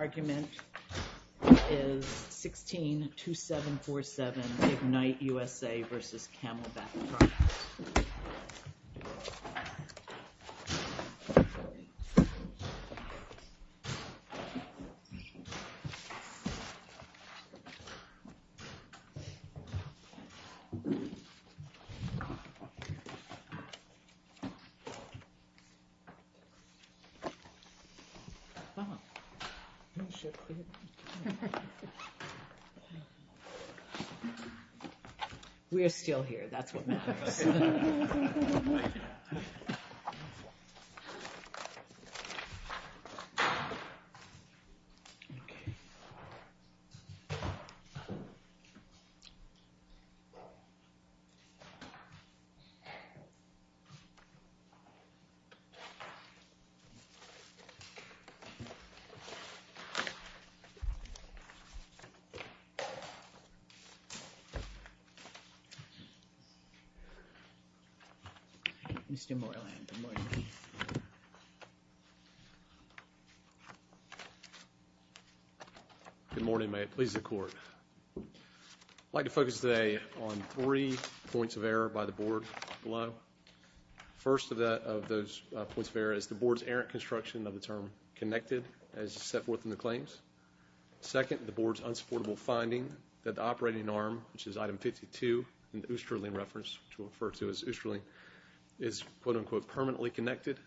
Argument is 16-2747 Ignite USA v. Camelbak Products We're still here, that's what matters. Good morning, may it please the court. I'd like to focus today on three points of error by the board below. First of those points of error is the board's errant construction of the term connected as set forth in the claims. Second, the board's unsupportable finding that the operating arm, which is item 52 in the Oosterling reference to refer to as Oosterling, is quote-unquote permanently connected.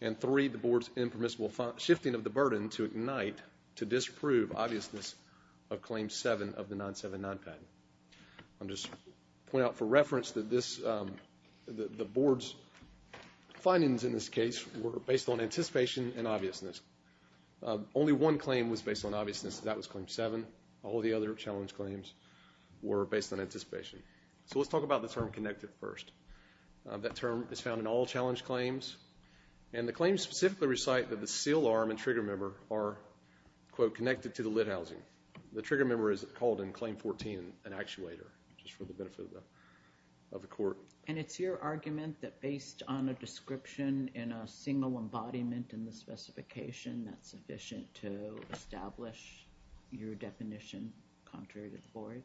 And three, the board's impermissible shifting of the burden to Ignite to disprove obviousness of claim seven of the 979 patent. I'll just point out for reference that the board's findings in this case were based on anticipation and obviousness. Only one claim was based on obviousness, that was claim seven. All the other challenge claims were based on anticipation. So let's talk about the term connected first. That term is found in all challenge claims and the claims specifically recite that the seal arm and trigger member are quote-unquote connected to the lid housing. The trigger member is called in claim 14 an actuator, just for the benefit of the court. And it's your argument that based on a description in a single embodiment in the specification that's sufficient to establish your definition contrary to the board?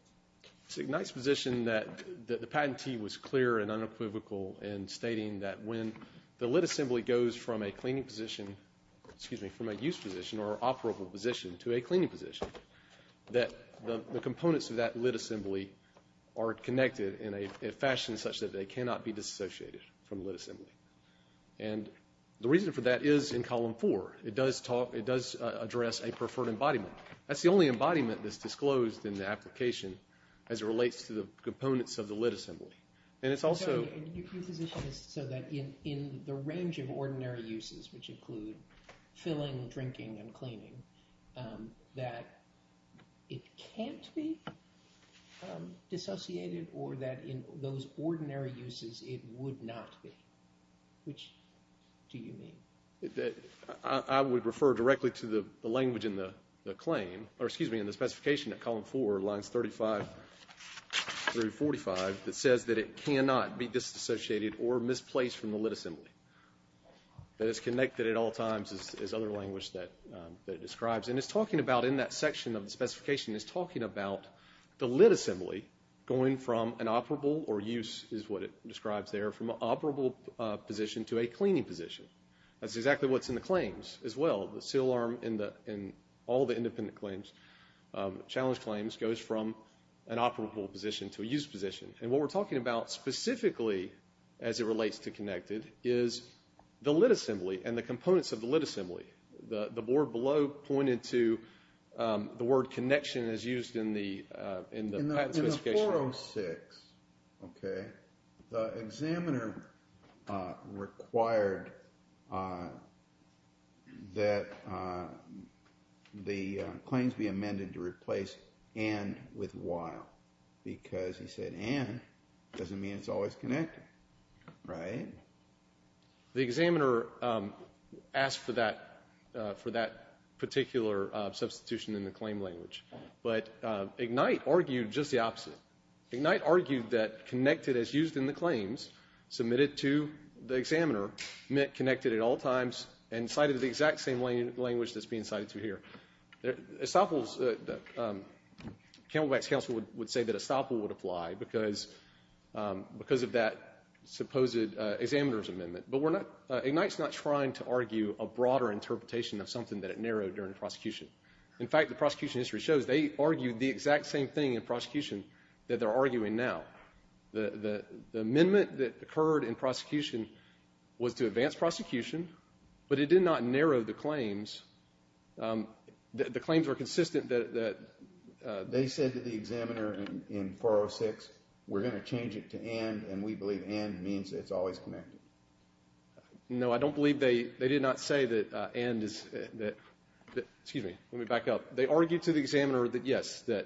Ignite's position that the patentee was clear and unequivocal in stating that when the lid assembly goes from a cleaning position, excuse me, from a use position or operable position to a cleaning position, that the components of that lid assembly are connected in a fashion such that they cannot be disassociated from the lid assembly. And the reason for that is in column four. It does talk, it does address a preferred embodiment. That's the only embodiment that's disclosed in the application as it relates to the components of the lid assembly. And it's also- And your position is so that in the range of ordinary uses, which include filling, drinking, and cleaning, that it can't be dissociated or that in those ordinary uses it would not be. Which do you mean? That I would refer directly to the language in the claim, or excuse me, in the specification at column four, lines 35 through 45, that says that it cannot be disassociated or misplaced from the lid assembly. That it's connected at all times is other language that it describes. And it's talking about, in that section of the specification, it's talking about the lid assembly going from an operable, or use is what it describes there, from an operable position to a cleaning position. That's exactly what's in the claims as well. The seal arm in all the independent claims, challenge claims, goes from an operable position to a use position. And what we're talking about specifically, as it relates to connected, is the lid assembly and the components of the lid assembly. The board below pointed to the word connection as used in the patent specification. In the 406, okay, the examiner required that the claims be amended to replace and with while. Because he said and, doesn't mean it's always connected, right? The examiner asked for that particular substitution in the claim language. But IGNITE argued just the opposite. IGNITE argued that connected as used in the claims, submitted to the examiner, meant connected at all times, and cited the exact same language that's being cited through here. Camelback's counsel would say that estoppel would apply because of that supposed examiner's amendment. But IGNITE's not trying to argue a broader interpretation of something that it narrowed during the prosecution. In fact, the prosecution history shows they argued the exact same thing in prosecution that they're arguing now. The amendment that occurred in prosecution was to advance prosecution, but it did not improve the claims. The claims were consistent that... They said to the examiner in 406, we're going to change it to and, and we believe and means it's always connected. No, I don't believe they did not say that and is, excuse me, let me back up. They argued to the examiner that yes, that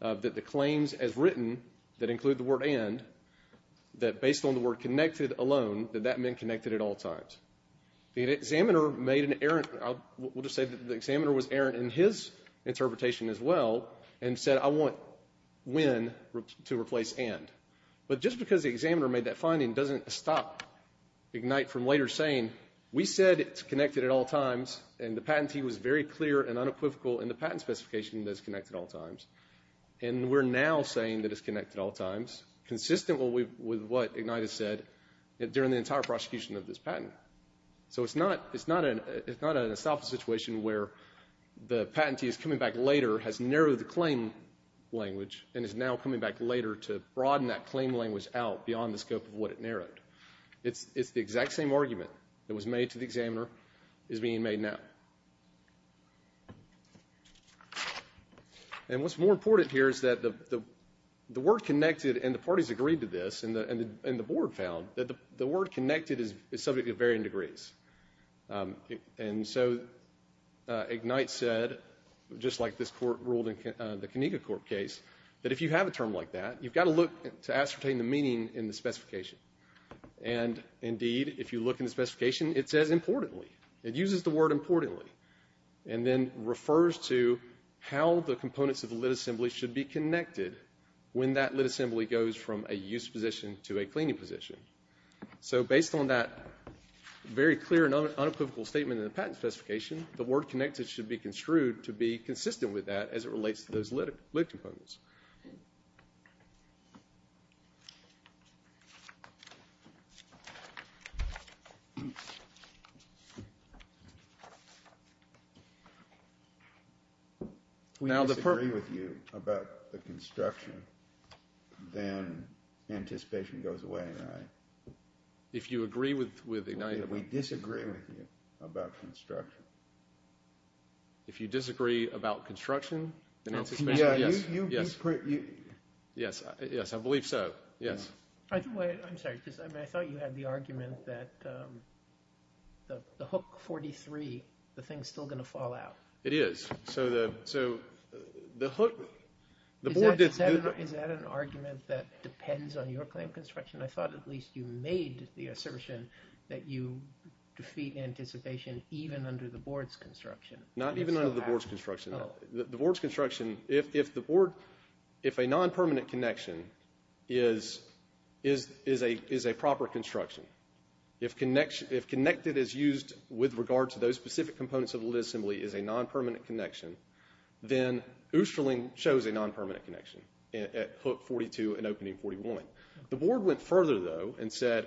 the claims as written that include the word and, that based on the word connected alone, that that meant connected at all times. The examiner made an errant, we'll just say that the examiner was errant in his interpretation as well, and said, I want when to replace and. But just because the examiner made that finding doesn't stop IGNITE from later saying, we said it's connected at all times, and the patentee was very clear and unequivocal in the patent specification that it's connected at all times. And we're now saying that it's connected at all times, consistent with what IGNITE has said during the entire prosecution of this patent. So it's not, it's not an, it's not an estoppel situation where the patentee is coming back later, has narrowed the claim language, and is now coming back later to broaden that claim language out beyond the scope of what it narrowed. It's, it's the exact same argument that was made to the examiner is being made now. And what's more important here is that the, the, the word connected and the parties agreed to this, and the, and the board found that the word connected is subject to varying degrees. And so IGNITE said, just like this court ruled in the Conega court case, that if you have a term like that, you've got to look to ascertain the meaning in the specification. And indeed, if you look in the specification, it says importantly. It uses the word importantly, and then refers to how the components of the lit assembly should be connected when that lit assembly goes from a use position to a cleaning position. So based on that very clear and unequivocal statement in the patent specification, the word connected should be construed to be consistent with that as it relates to those lit, lit components. We disagree with you about the construction, then anticipation goes away, right? If you agree with, with IGNITE. We disagree with you about construction. If you disagree about construction, then anticipation goes away. Yes, yes, I believe so. Yes. I'm sorry, because I thought you had the argument that the hook 43, the thing's still going to fall out. It is. So the, so the hook. Is that an argument that depends on your claim construction? I thought at least you made the assertion that you defeat anticipation even under the board's construction. Not even under the board's construction. The board's construction, if, if the board, if a non-permanent connection is, is, is a, is a proper construction, if connection, if connected is used with regard to those specific components of the lit assembly is a non-permanent connection, then Oosterling shows a non-permanent connection at hook 42 and opening 41. The board went further though and said,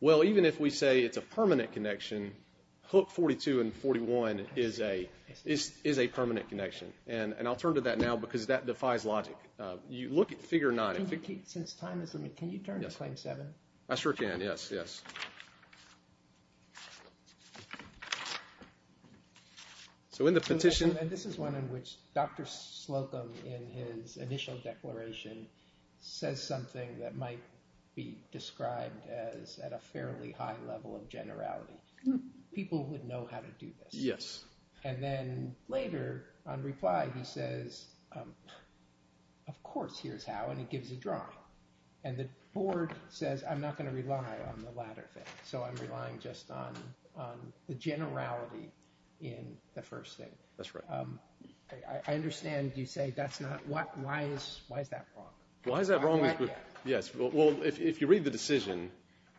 well, even if we say it's a permanent connection, hook 42 and 41 is a, is, is a permanent connection. And, and I'll turn to that now because that defies logic. You look at figure nine. Since time is limited, can you turn to claim seven? I sure can. Yes, yes. So in the petition. This is one in which Dr. Slocum in his initial declaration says something that might be described as at a fairly high level of generality. People would know how to do this. Yes. And then later on reply, he says, of course, here's how, and it gives a drawing. And the board says, I'm not going to rely on the latter thing. So I'm relying just on, on the generality in the first thing. That's right. I understand you say that's not what, why is, why is that wrong? Why is that wrong? Yes. Well, if you read the decision,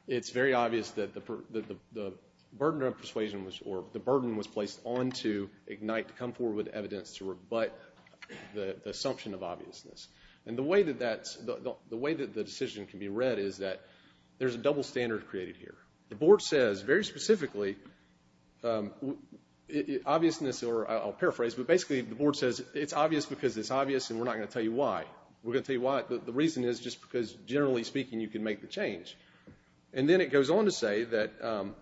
it's very obvious that the burden of persuasion was, or the burden was placed onto IGNITE to come forward with evidence to rebut the assumption of obviousness. And the way that that's, the way that the decision can be read is that there's a double standard created here. The board says very specifically, obviousness, or I'll paraphrase, but basically the board says it's obvious because it's obvious and we're not going to tell you why. We're going to tell you why. The reason is just because generally speaking, you can make the change. And then it goes on to say that,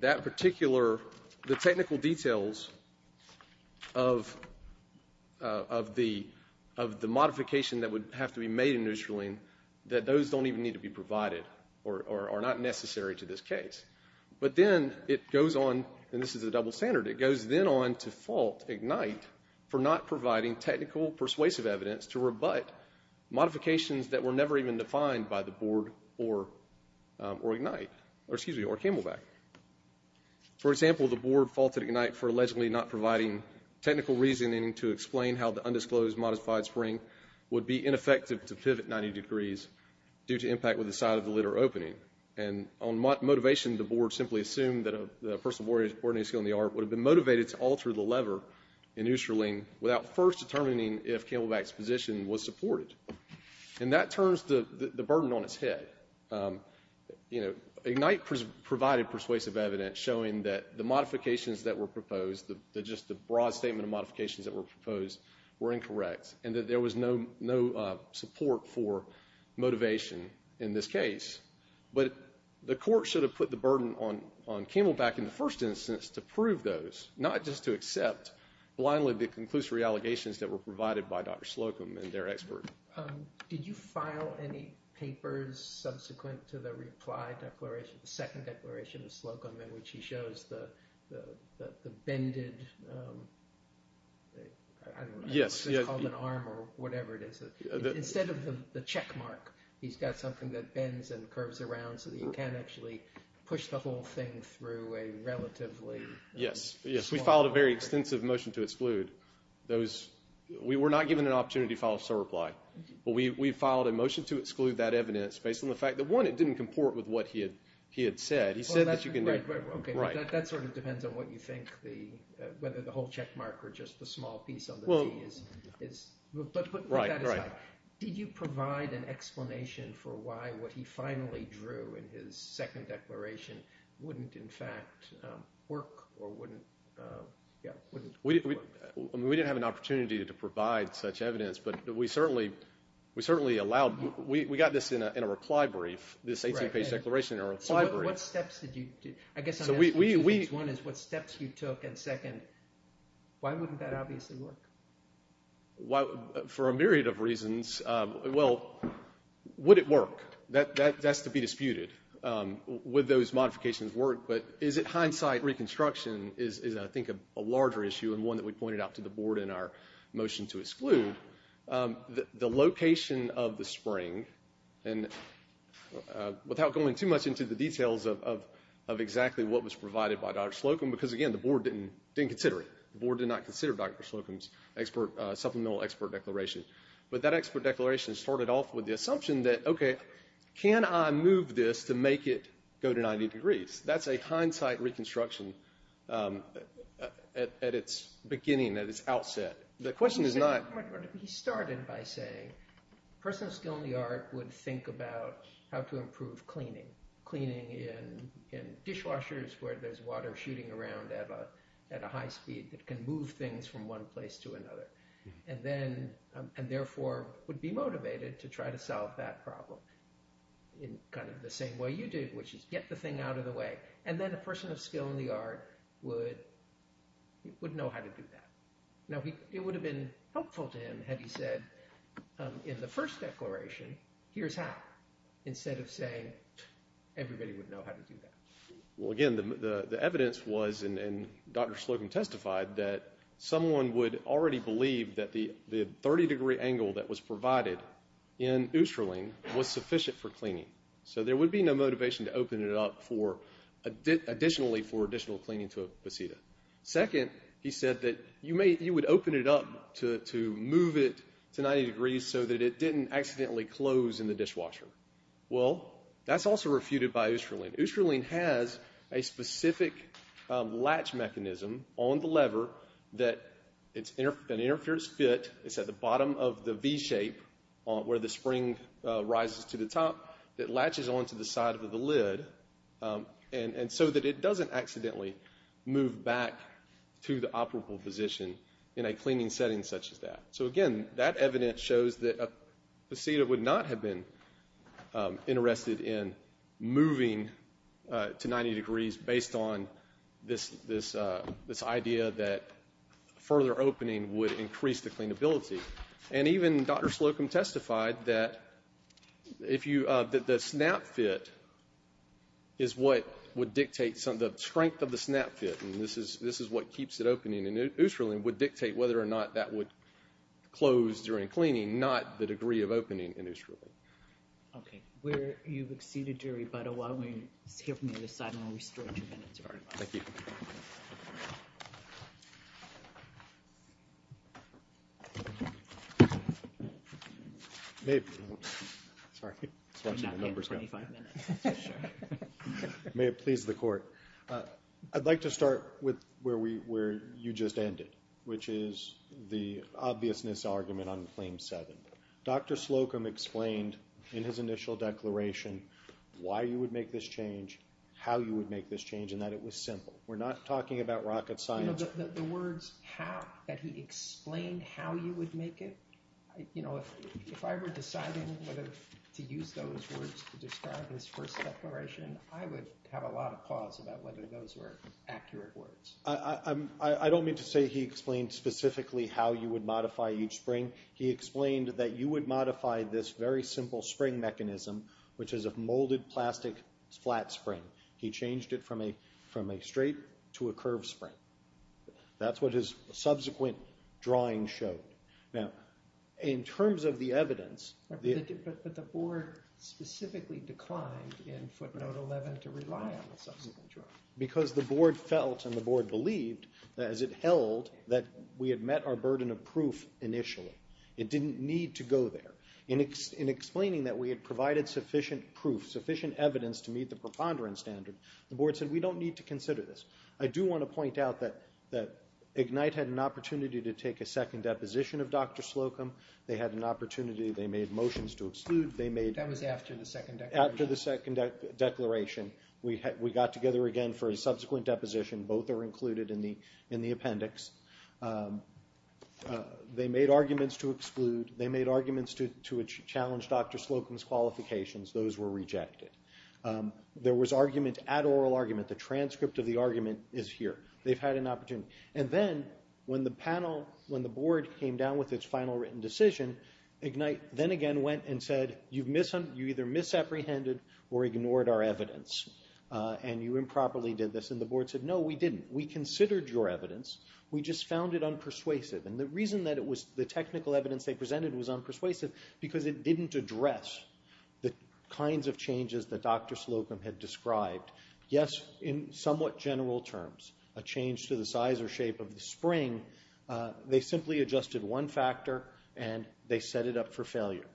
that particular, the technical details of, of the, of the modification that would have to be made in New Scherling, that those don't even need to be provided, or are not necessary to this case. But then it goes on, and this is a double standard, it goes then on to fault IGNITE for not providing technical persuasive evidence to rebut modifications that were never even defined by the board or, or IGNITE, or excuse me, or Camelback. For example, the board faulted IGNITE for allegedly not providing technical reasoning to explain how the undisclosed modified spring would be ineffective to pivot 90 degrees due to impact with the side of the lid or opening. And on motivation, the board simply assumed that a person of ordinary skill in the art would have been motivated to alter the lever in New Scherling without first determining if Camelback's position was supported. And that turns the, the burden on its head. You know, IGNITE provided persuasive evidence showing that the modifications that were proposed, the, the just the broad statement of modifications that were proposed were incorrect, and that there was no, no support for motivation in this case. But the court should have put the burden on, on Camelback in the first instance to prove those, not just to accept blindly the conclusory allegations that were provided by Dr. Slocum and their expert. Um, did you file any papers subsequent to the reply declaration, the second declaration of Slocum in which he shows the, the, the, the bended, um, I don't know. Yes. It's called an arm or whatever it is. Instead of the check mark, he's got something that bends and curves around so that you can't push the whole thing through a relatively. Yes. Yes. We filed a very extensive motion to exclude those. We were not given an opportunity to file a sole reply. But we, we filed a motion to exclude that evidence based on the fact that one, it didn't comport with what he had, he had said. He said that you can. Right, right, right. That sort of depends on what you think the, whether the whole check mark or just the small piece of it is, is. Right, right. Did you provide an explanation for why what he finally drew in his second declaration wouldn't in fact, um, work or wouldn't, uh, yeah, wouldn't work? We, we, we didn't have an opportunity to provide such evidence, but we certainly, we certainly allowed, we, we got this in a, in a reply brief, this 18 page declaration in a reply brief. What steps did you do? I guess I'm asking two things. One is what steps you took and second, why wouldn't that obviously work? Why, for a myriad of reasons, uh, well, would it work? That, that, that's to be disputed. Um, would those modifications work? But is it hindsight reconstruction is, is I think a larger issue and one that we pointed out to the board in our motion to exclude, um, the, the location of the spring and, uh, without going too much into the details of, of, of exactly what was provided by Dr. Slocum, because again, the board didn't, didn't consider it. The board did not consider Dr. Slocum's expert, uh, supplemental expert declaration. But that expert declaration started off with the assumption that, okay, can I move this to make it go to 90 degrees? That's a hindsight reconstruction, um, uh, at, at its beginning, at its outset. The question is not. He started by saying personal skill in the art would think about how to improve cleaning, cleaning in, in dishwashers where there's water shooting around at a, at a high speed that can move things from one place to another. And then, um, and therefore would be motivated to try to solve that problem in kind of the same way you did, which is get the thing out of the way. And then a person of skill in the art would, would know how to do that. Now he, it would have been helpful to him had he said, um, in the first declaration, here's how, instead of saying everybody would know how to do that. Well, again, the, the, the evidence was, and, and Dr. Slocum testified that someone would already believe that the, the 30 degree angle that was provided in Oosterling was sufficient for cleaning. So there would be no motivation to open it up for additionally, for additional cleaning to a pasita. Second, he said that you may, you would open it up to, to move it to 90 degrees so that it didn't accidentally close in the dishwasher. Well, that's also refuted by Oosterling. Oosterling has a specific, um, latch mechanism on the lever that it's, that interferes fit, it's at the bottom of the V shape on, where the spring, uh, rises to the top that latches onto the side of the lid, um, and, and so that it doesn't accidentally move back to the operable position in a cleaning setting such as that. So again, that evidence shows that a pasita would not have been, um, interested in moving, uh, to 90 degrees based on this, this, uh, this idea that further opening would increase the cleanability. And even Dr. Slocum testified that if you, uh, that the snap fit is what would dictate some, the strength of the snap fit, and this is, this is what keeps it opening, and Oosterling would dictate whether or not that would close during cleaning, not the degree of opening in Oosterling. Okay. We're, you've exceeded your rebuttal. Why don't we hear from the other side, and we'll restore your minutes, if that's all right. Thank you. Maybe. Sorry. May it please the Court. I'd like to start with where we, where you just ended. Which is the obviousness argument on Claim 7. Dr. Slocum explained in his initial declaration why you would make this change, how you would make this change, and that it was simple. We're not talking about rocket science. You know, the, the words how, that he explained how you would make it, I, you know, if, if I were deciding whether to use those words to describe his first declaration, I would have a lot of pause about whether those were accurate words. I, I, I don't mean to say he explained specifically how you would modify each spring. He explained that you would modify this very simple spring mechanism, which is a molded plastic flat spring. He changed it from a, from a straight to a curved spring. That's what his subsequent drawing showed. Now, in terms of the evidence. But the Board specifically declined in footnote 11 to rely on the subsequent drawing. Because the Board felt and the Board believed, as it held, that we had met our burden of proof initially. It didn't need to go there. In, in explaining that we had provided sufficient proof, sufficient evidence to meet the preponderance standard, the Board said we don't need to consider this. I do want to point out that, that IGNITE had an opportunity to take a second deposition of Dr. Slocum. They had an opportunity, they made motions to exclude, they made. That was after the second declaration. After the second declaration, we got together again for a subsequent deposition. Both are included in the appendix. They made arguments to exclude. They made arguments to challenge Dr. Slocum's qualifications. Those were rejected. There was argument at oral argument. The transcript of the argument is here. They've had an opportunity. And then, when the panel, when the Board came down with its final written decision, IGNITE then again went and said, you either misapprehended or ignored our evidence. And you improperly did this. And the Board said, no, we didn't. We considered your evidence. We just found it unpersuasive. And the reason that it was, the technical evidence they presented was unpersuasive, because it didn't address the kinds of changes that Dr. Slocum had described. Yes, in somewhat general terms, a change to the size or shape of the spring. They simply adjusted one factor, and they set it up for failure.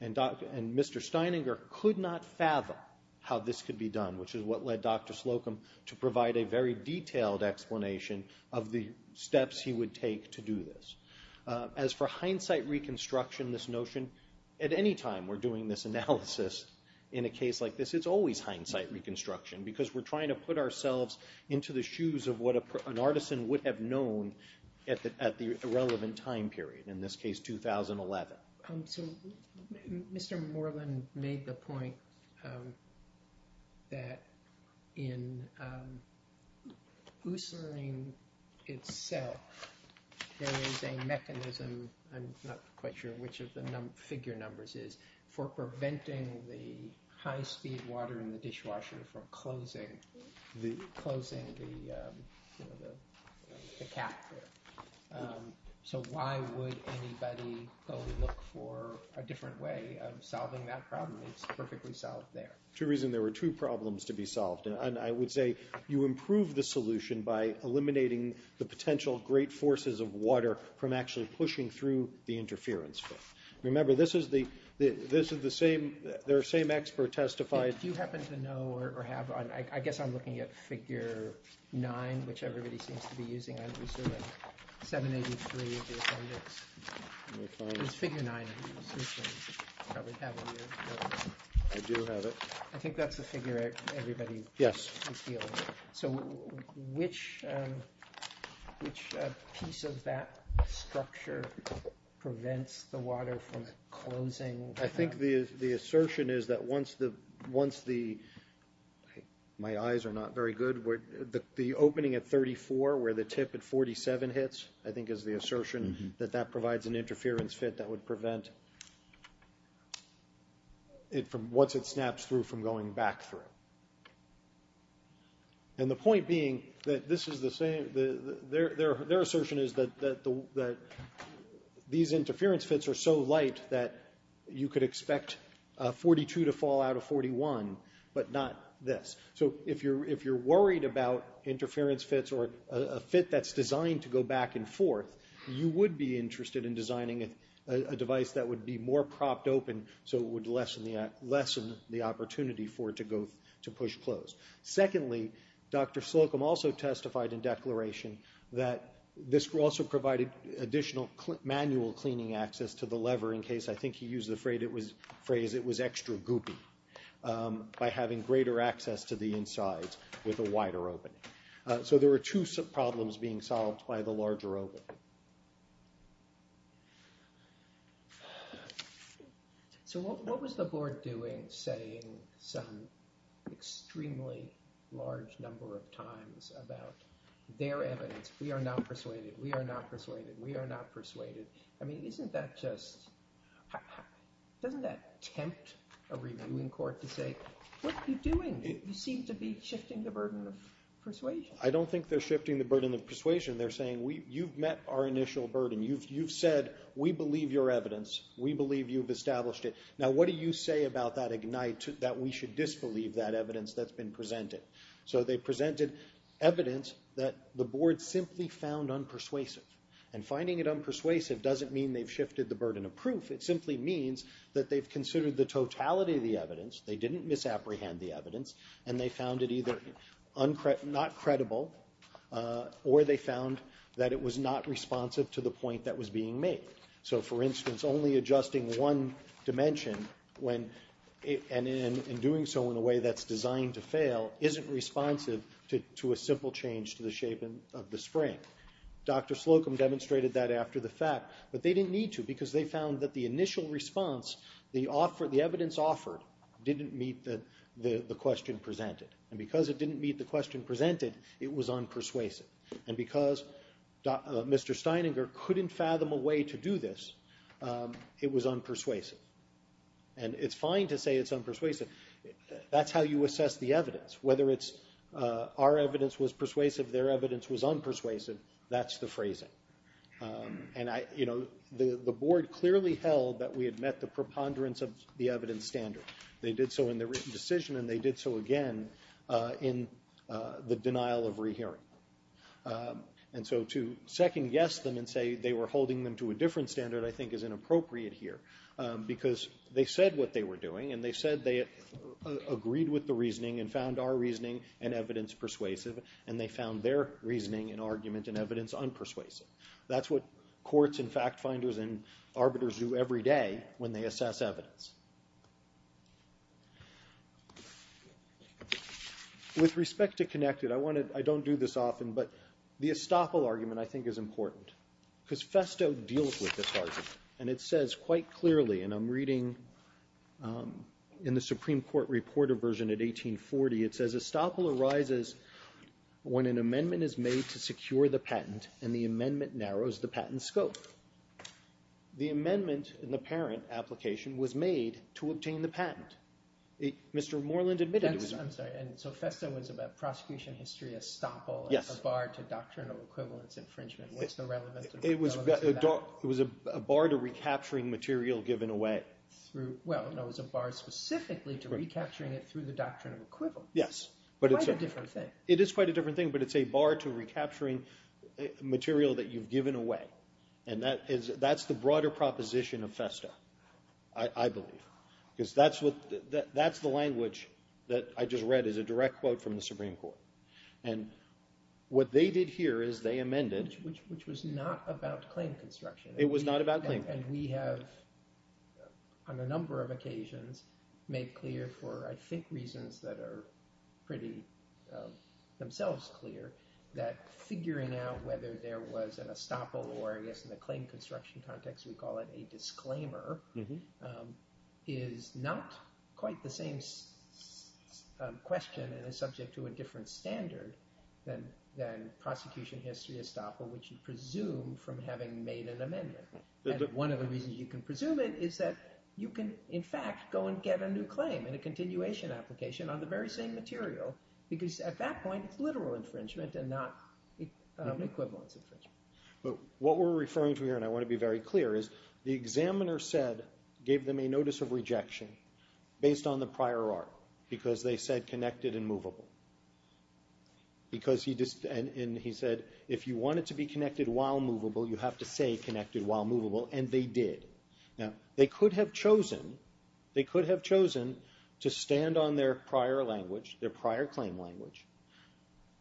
And Mr. Steininger could not fathom how this could be done, which is what led Dr. Slocum to provide a very detailed explanation of the steps he would take to do this. As for hindsight reconstruction, this notion, at any time we're doing this analysis in a case like this, it's always hindsight reconstruction, because we're trying to put ourselves into the shoes of what an artisan would have known at the relevant time period. In this case, 2011. So Mr. Moreland made the point that in oocylene itself, there is a mechanism, I'm not quite sure which of the figure numbers is, for preventing the high-speed water in the cat. So why would anybody go look for a different way of solving that problem? It's perfectly solved there. Two reasons. There were two problems to be solved, and I would say you improve the solution by eliminating the potential great forces of water from actually pushing through the interference film. Remember, this is the same, their same expert testified. Do you happen to know, or have, I guess I'm looking at figure nine, which everybody seems to be using. I'm assuming 783 of the appendix is figure nine. I do have it. I think that's the figure everybody feels. So which piece of that structure prevents the water from closing? I think the assertion is that once the, my eyes are not very good, the opening at 34, where the tip at 47 hits, I think is the assertion that that provides an interference fit that would prevent it from, once it snaps through, from going back through. And the point being that this is the same, their assertion is that these interference fits are so light that you could expect 42 to fall out of 41, but not this. So if you're worried about interference fits or a fit that's designed to go back and forth, you would be interested in designing a device that would be more propped open so it would lessen the opportunity for it to go, to push closed. Secondly, Dr. Slocum also testified in declaration that this also provided additional manual cleaning access to the lever in case, I think he used the phrase, it was extra goopy, by having greater access to the insides with a wider opening. So there were two problems being solved by the larger opening. So what was the board doing saying some extremely large number of times about their evidence? We are not persuaded. We are not persuaded. We are not persuaded. I mean, isn't that just, doesn't that tempt a reviewing court to say, what are you doing? You seem to be shifting the burden of persuasion. I don't think they're shifting the burden of persuasion. They're saying, you've met our initial burden. You've said we believe your evidence. We believe you've established it. Now, what do you say about that Ignite, that we should disbelieve that evidence that's been presented? So they presented evidence that the board simply found unpersuasive. And finding it unpersuasive doesn't mean they've shifted the burden of proof. It simply means that they've considered the totality of the evidence. They didn't misapprehend the evidence, and they found it either not credible, or they found that it was not responsive to the point that was being made. So for instance, only adjusting one dimension when, and in doing so in a way that's designed to fail, isn't responsive to a simple change to the shape of the spring. Dr. Slocum demonstrated that after the fact. But they didn't need to, because they found that the initial response, the evidence offered, didn't meet the question presented. And because it didn't meet the question presented, it was unpersuasive. And because Mr. Steininger couldn't fathom a way to do this, it was unpersuasive. And it's fine to say it's unpersuasive. That's how you assess the evidence. Whether our evidence was persuasive, their evidence was unpersuasive, that's the phrasing. And the board clearly held that we had met the preponderance of the evidence standard. They did so in the written decision, and they did so again in the denial of rehearing. And so to second-guess them and say they were holding them to a different standard, I think, is inappropriate here. Because they said what they were doing, and they said they agreed with the reasoning and found our reasoning and evidence persuasive. And they found their reasoning and argument and evidence unpersuasive. That's what courts and fact-finders and arbiters do every day when they assess evidence. With respect to connected, I don't do this often. But the estoppel argument, I think, is important. Because Festo deals with this argument. And it says quite clearly, and I'm reading in the Supreme Court reporter version at 1840, it says, estoppel arises when an amendment is made to secure the patent, and the amendment narrows the patent scope. The amendment in the parent application was made to obtain the patent. Mr. Moreland admitted it was not. I'm sorry. And so Festo was about prosecution history, estoppel. Yes. A bar to doctrinal equivalence infringement. What's the relevance of that? It was a bar to recapturing material given away. Through, well, no. It was a bar specifically to recapturing it through the doctrine of equivalence. Yes. Quite a different thing. It is quite a different thing. But it's a bar to recapturing material that you've given away. And that's the broader proposition of Festo, I believe. Because that's the language that I just read as a direct quote from the Supreme Court. And what they did here is they amended. Which was not about claim construction. It was not about claim. And we have, on a number of occasions, made clear for, I think, reasons that are pretty themselves clear that figuring out whether there was an estoppel, or I guess in the claim construction context, we call it a disclaimer, is not quite the same question and is subject to a different standard than prosecution history estoppel, which you presume from having made an amendment. And one of the reasons you can presume it is that you can, in fact, go and get a new claim in a continuation application on the very same material. Because at that point, it's literal infringement and not equivalence infringement. But what we're referring to here, and I want to be very clear, the examiner gave them a notice of rejection based on the prior art. Because they said connected and movable. Because he said, if you want it to be connected while movable, you have to say connected while movable. And they did. They could have chosen to stand on their prior claim language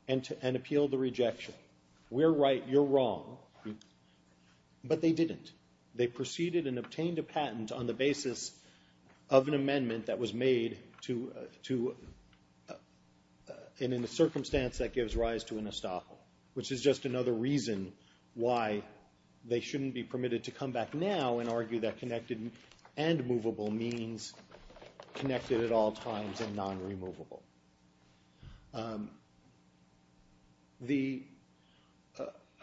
and appeal the rejection. We're right, you're wrong. But they didn't. They proceeded and obtained a patent on the basis of an amendment that was made to, and in the circumstance, that gives rise to an estoppel. Which is just another reason why they shouldn't be permitted to come back now and argue that connected and movable means connected at all times and non-removable. I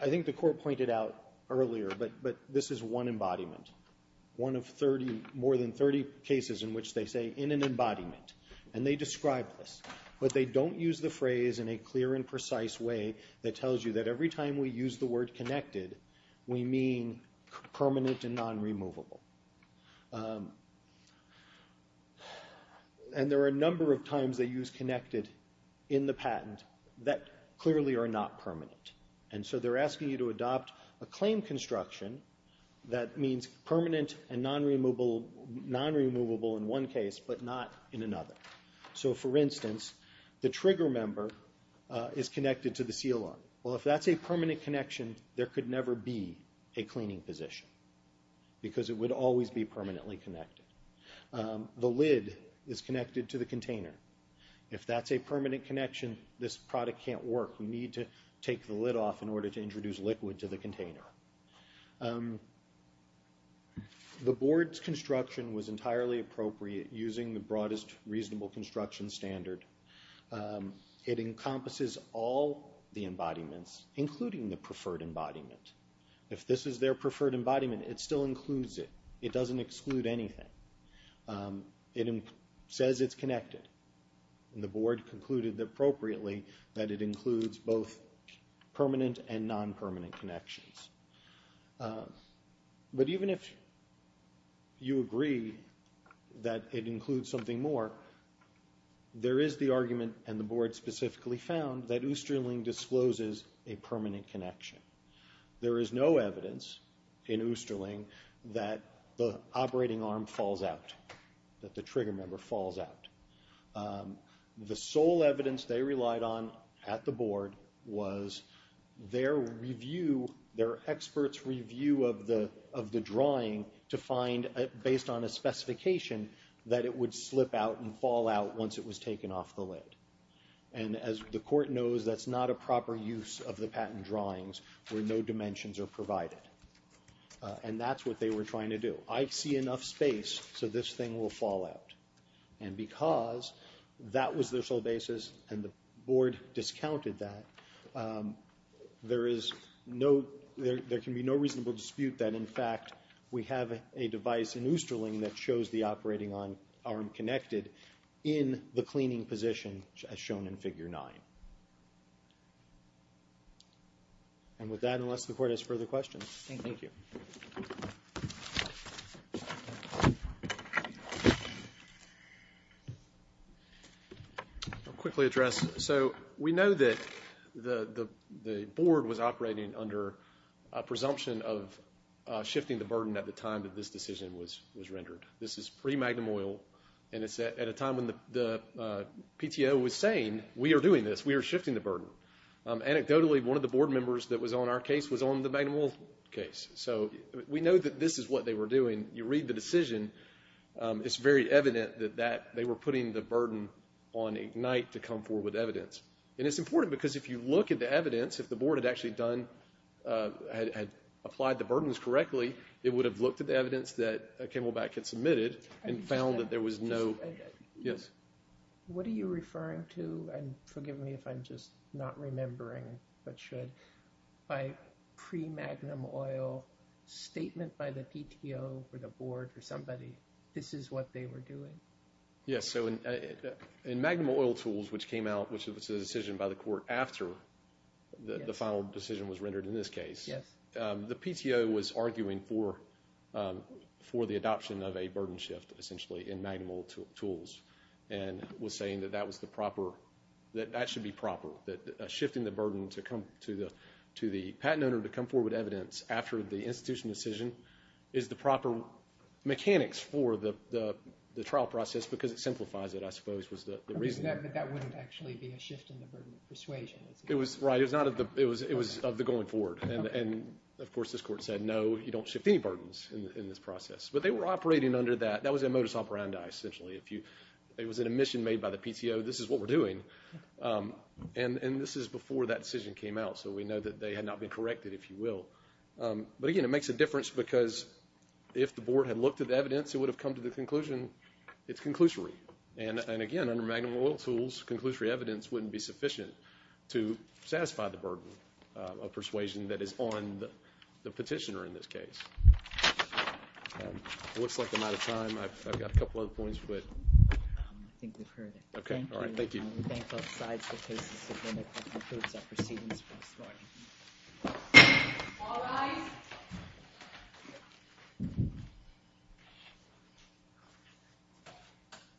think the court pointed out earlier, but this is one embodiment. One of more than 30 cases in which they say, in an embodiment. And they describe this. But they don't use the phrase in a clear and precise way that tells you that every time we use the word connected, we mean permanent and non-removable. And there are a number of times they use connected in the patent that clearly are not permanent. And so they're asking you to adopt a claim construction that means permanent and non-removable in one case, but not in another. So for instance, the trigger member is connected to the seal arm. Well, if that's a permanent connection, there could never be a cleaning position. Because it would always be permanently connected. The lid is connected to the container. If that's a permanent connection, this product can't work. We need to take the lid off in order to introduce liquid to the container. The board's construction was entirely appropriate using the broadest reasonable construction standard. It encompasses all the embodiments, including the preferred embodiment. If this is their preferred embodiment, it still includes it. It doesn't exclude anything. It says it's connected. And the board concluded appropriately that it includes both permanent and non-permanent connections. But even if you agree that it includes something more, there is the argument, and the board specifically found, that Oosterling discloses a permanent connection. There is no evidence in Oosterling that the operating arm falls out, that the trigger member falls out. The sole evidence they relied on at the board was their review, their expert's review of the drawing to find, based on a specification, that it would slip out and fall out once it was taken off the lid. And as the court knows, that's not a proper use of the patent drawings. Where no dimensions are provided. And that's what they were trying to do. I see enough space, so this thing will fall out. And because that was their sole basis, and the board discounted that, there is no, there can be no reasonable dispute that, in fact, we have a device in Oosterling that shows the operating arm connected in the cleaning position, as shown in Figure 9. And with that, unless the court has further questions. Thank you. Quickly address, so we know that the board was operating under a presumption of shifting the burden at the time that this decision was rendered. This is pre-Magnum Oil, and it's at a time when the PTO was saying, we are doing this, we are shifting the burden. Anecdotally, one of the board members that was on our case was on the Magnum Oil case. So, we know that this is what they were doing. You read the decision, it's very evident that that, they were putting the burden on IGNITE to come forward with evidence. And it's important because if you look at the evidence, if the board had actually done, had applied the burdens correctly, it would have looked at the evidence that Ken Wolbach had submitted and found that there was no, yes. What are you referring to? And forgive me if I'm just not remembering, but should, by pre-Magnum Oil statement by the PTO or the board or somebody, this is what they were doing? Yes. So, in Magnum Oil tools, which came out, which was a decision by the court after the final decision was rendered in this case, the PTO was arguing for the adoption of a burden shift, essentially, in Magnum Oil tools. And was saying that that was the proper, that that should be proper, that shifting the burden to come to the patent owner to come forward with evidence after the institution decision is the proper mechanics for the trial process because it simplifies it, I suppose, was the reason. But that wouldn't actually be a shift in the burden of persuasion. It was, right, it was of the going forward. And of course, this court said, no, you don't shift any burdens in this process. But they were operating under that. That was a modus operandi, essentially. It was an admission made by the PTO. This is what we're doing. And this is before that decision came out. So we know that they had not been corrected, if you will. But again, it makes a difference because if the board had looked at the evidence, it would have come to the conclusion, it's conclusory. And again, under Magnum Oil tools, conclusory evidence wouldn't be sufficient to satisfy the burden of persuasion that is on the petitioner in this case. It looks like I'm out of time. I've got a couple of other points, but I think we've heard it. OK. All right. Thank you.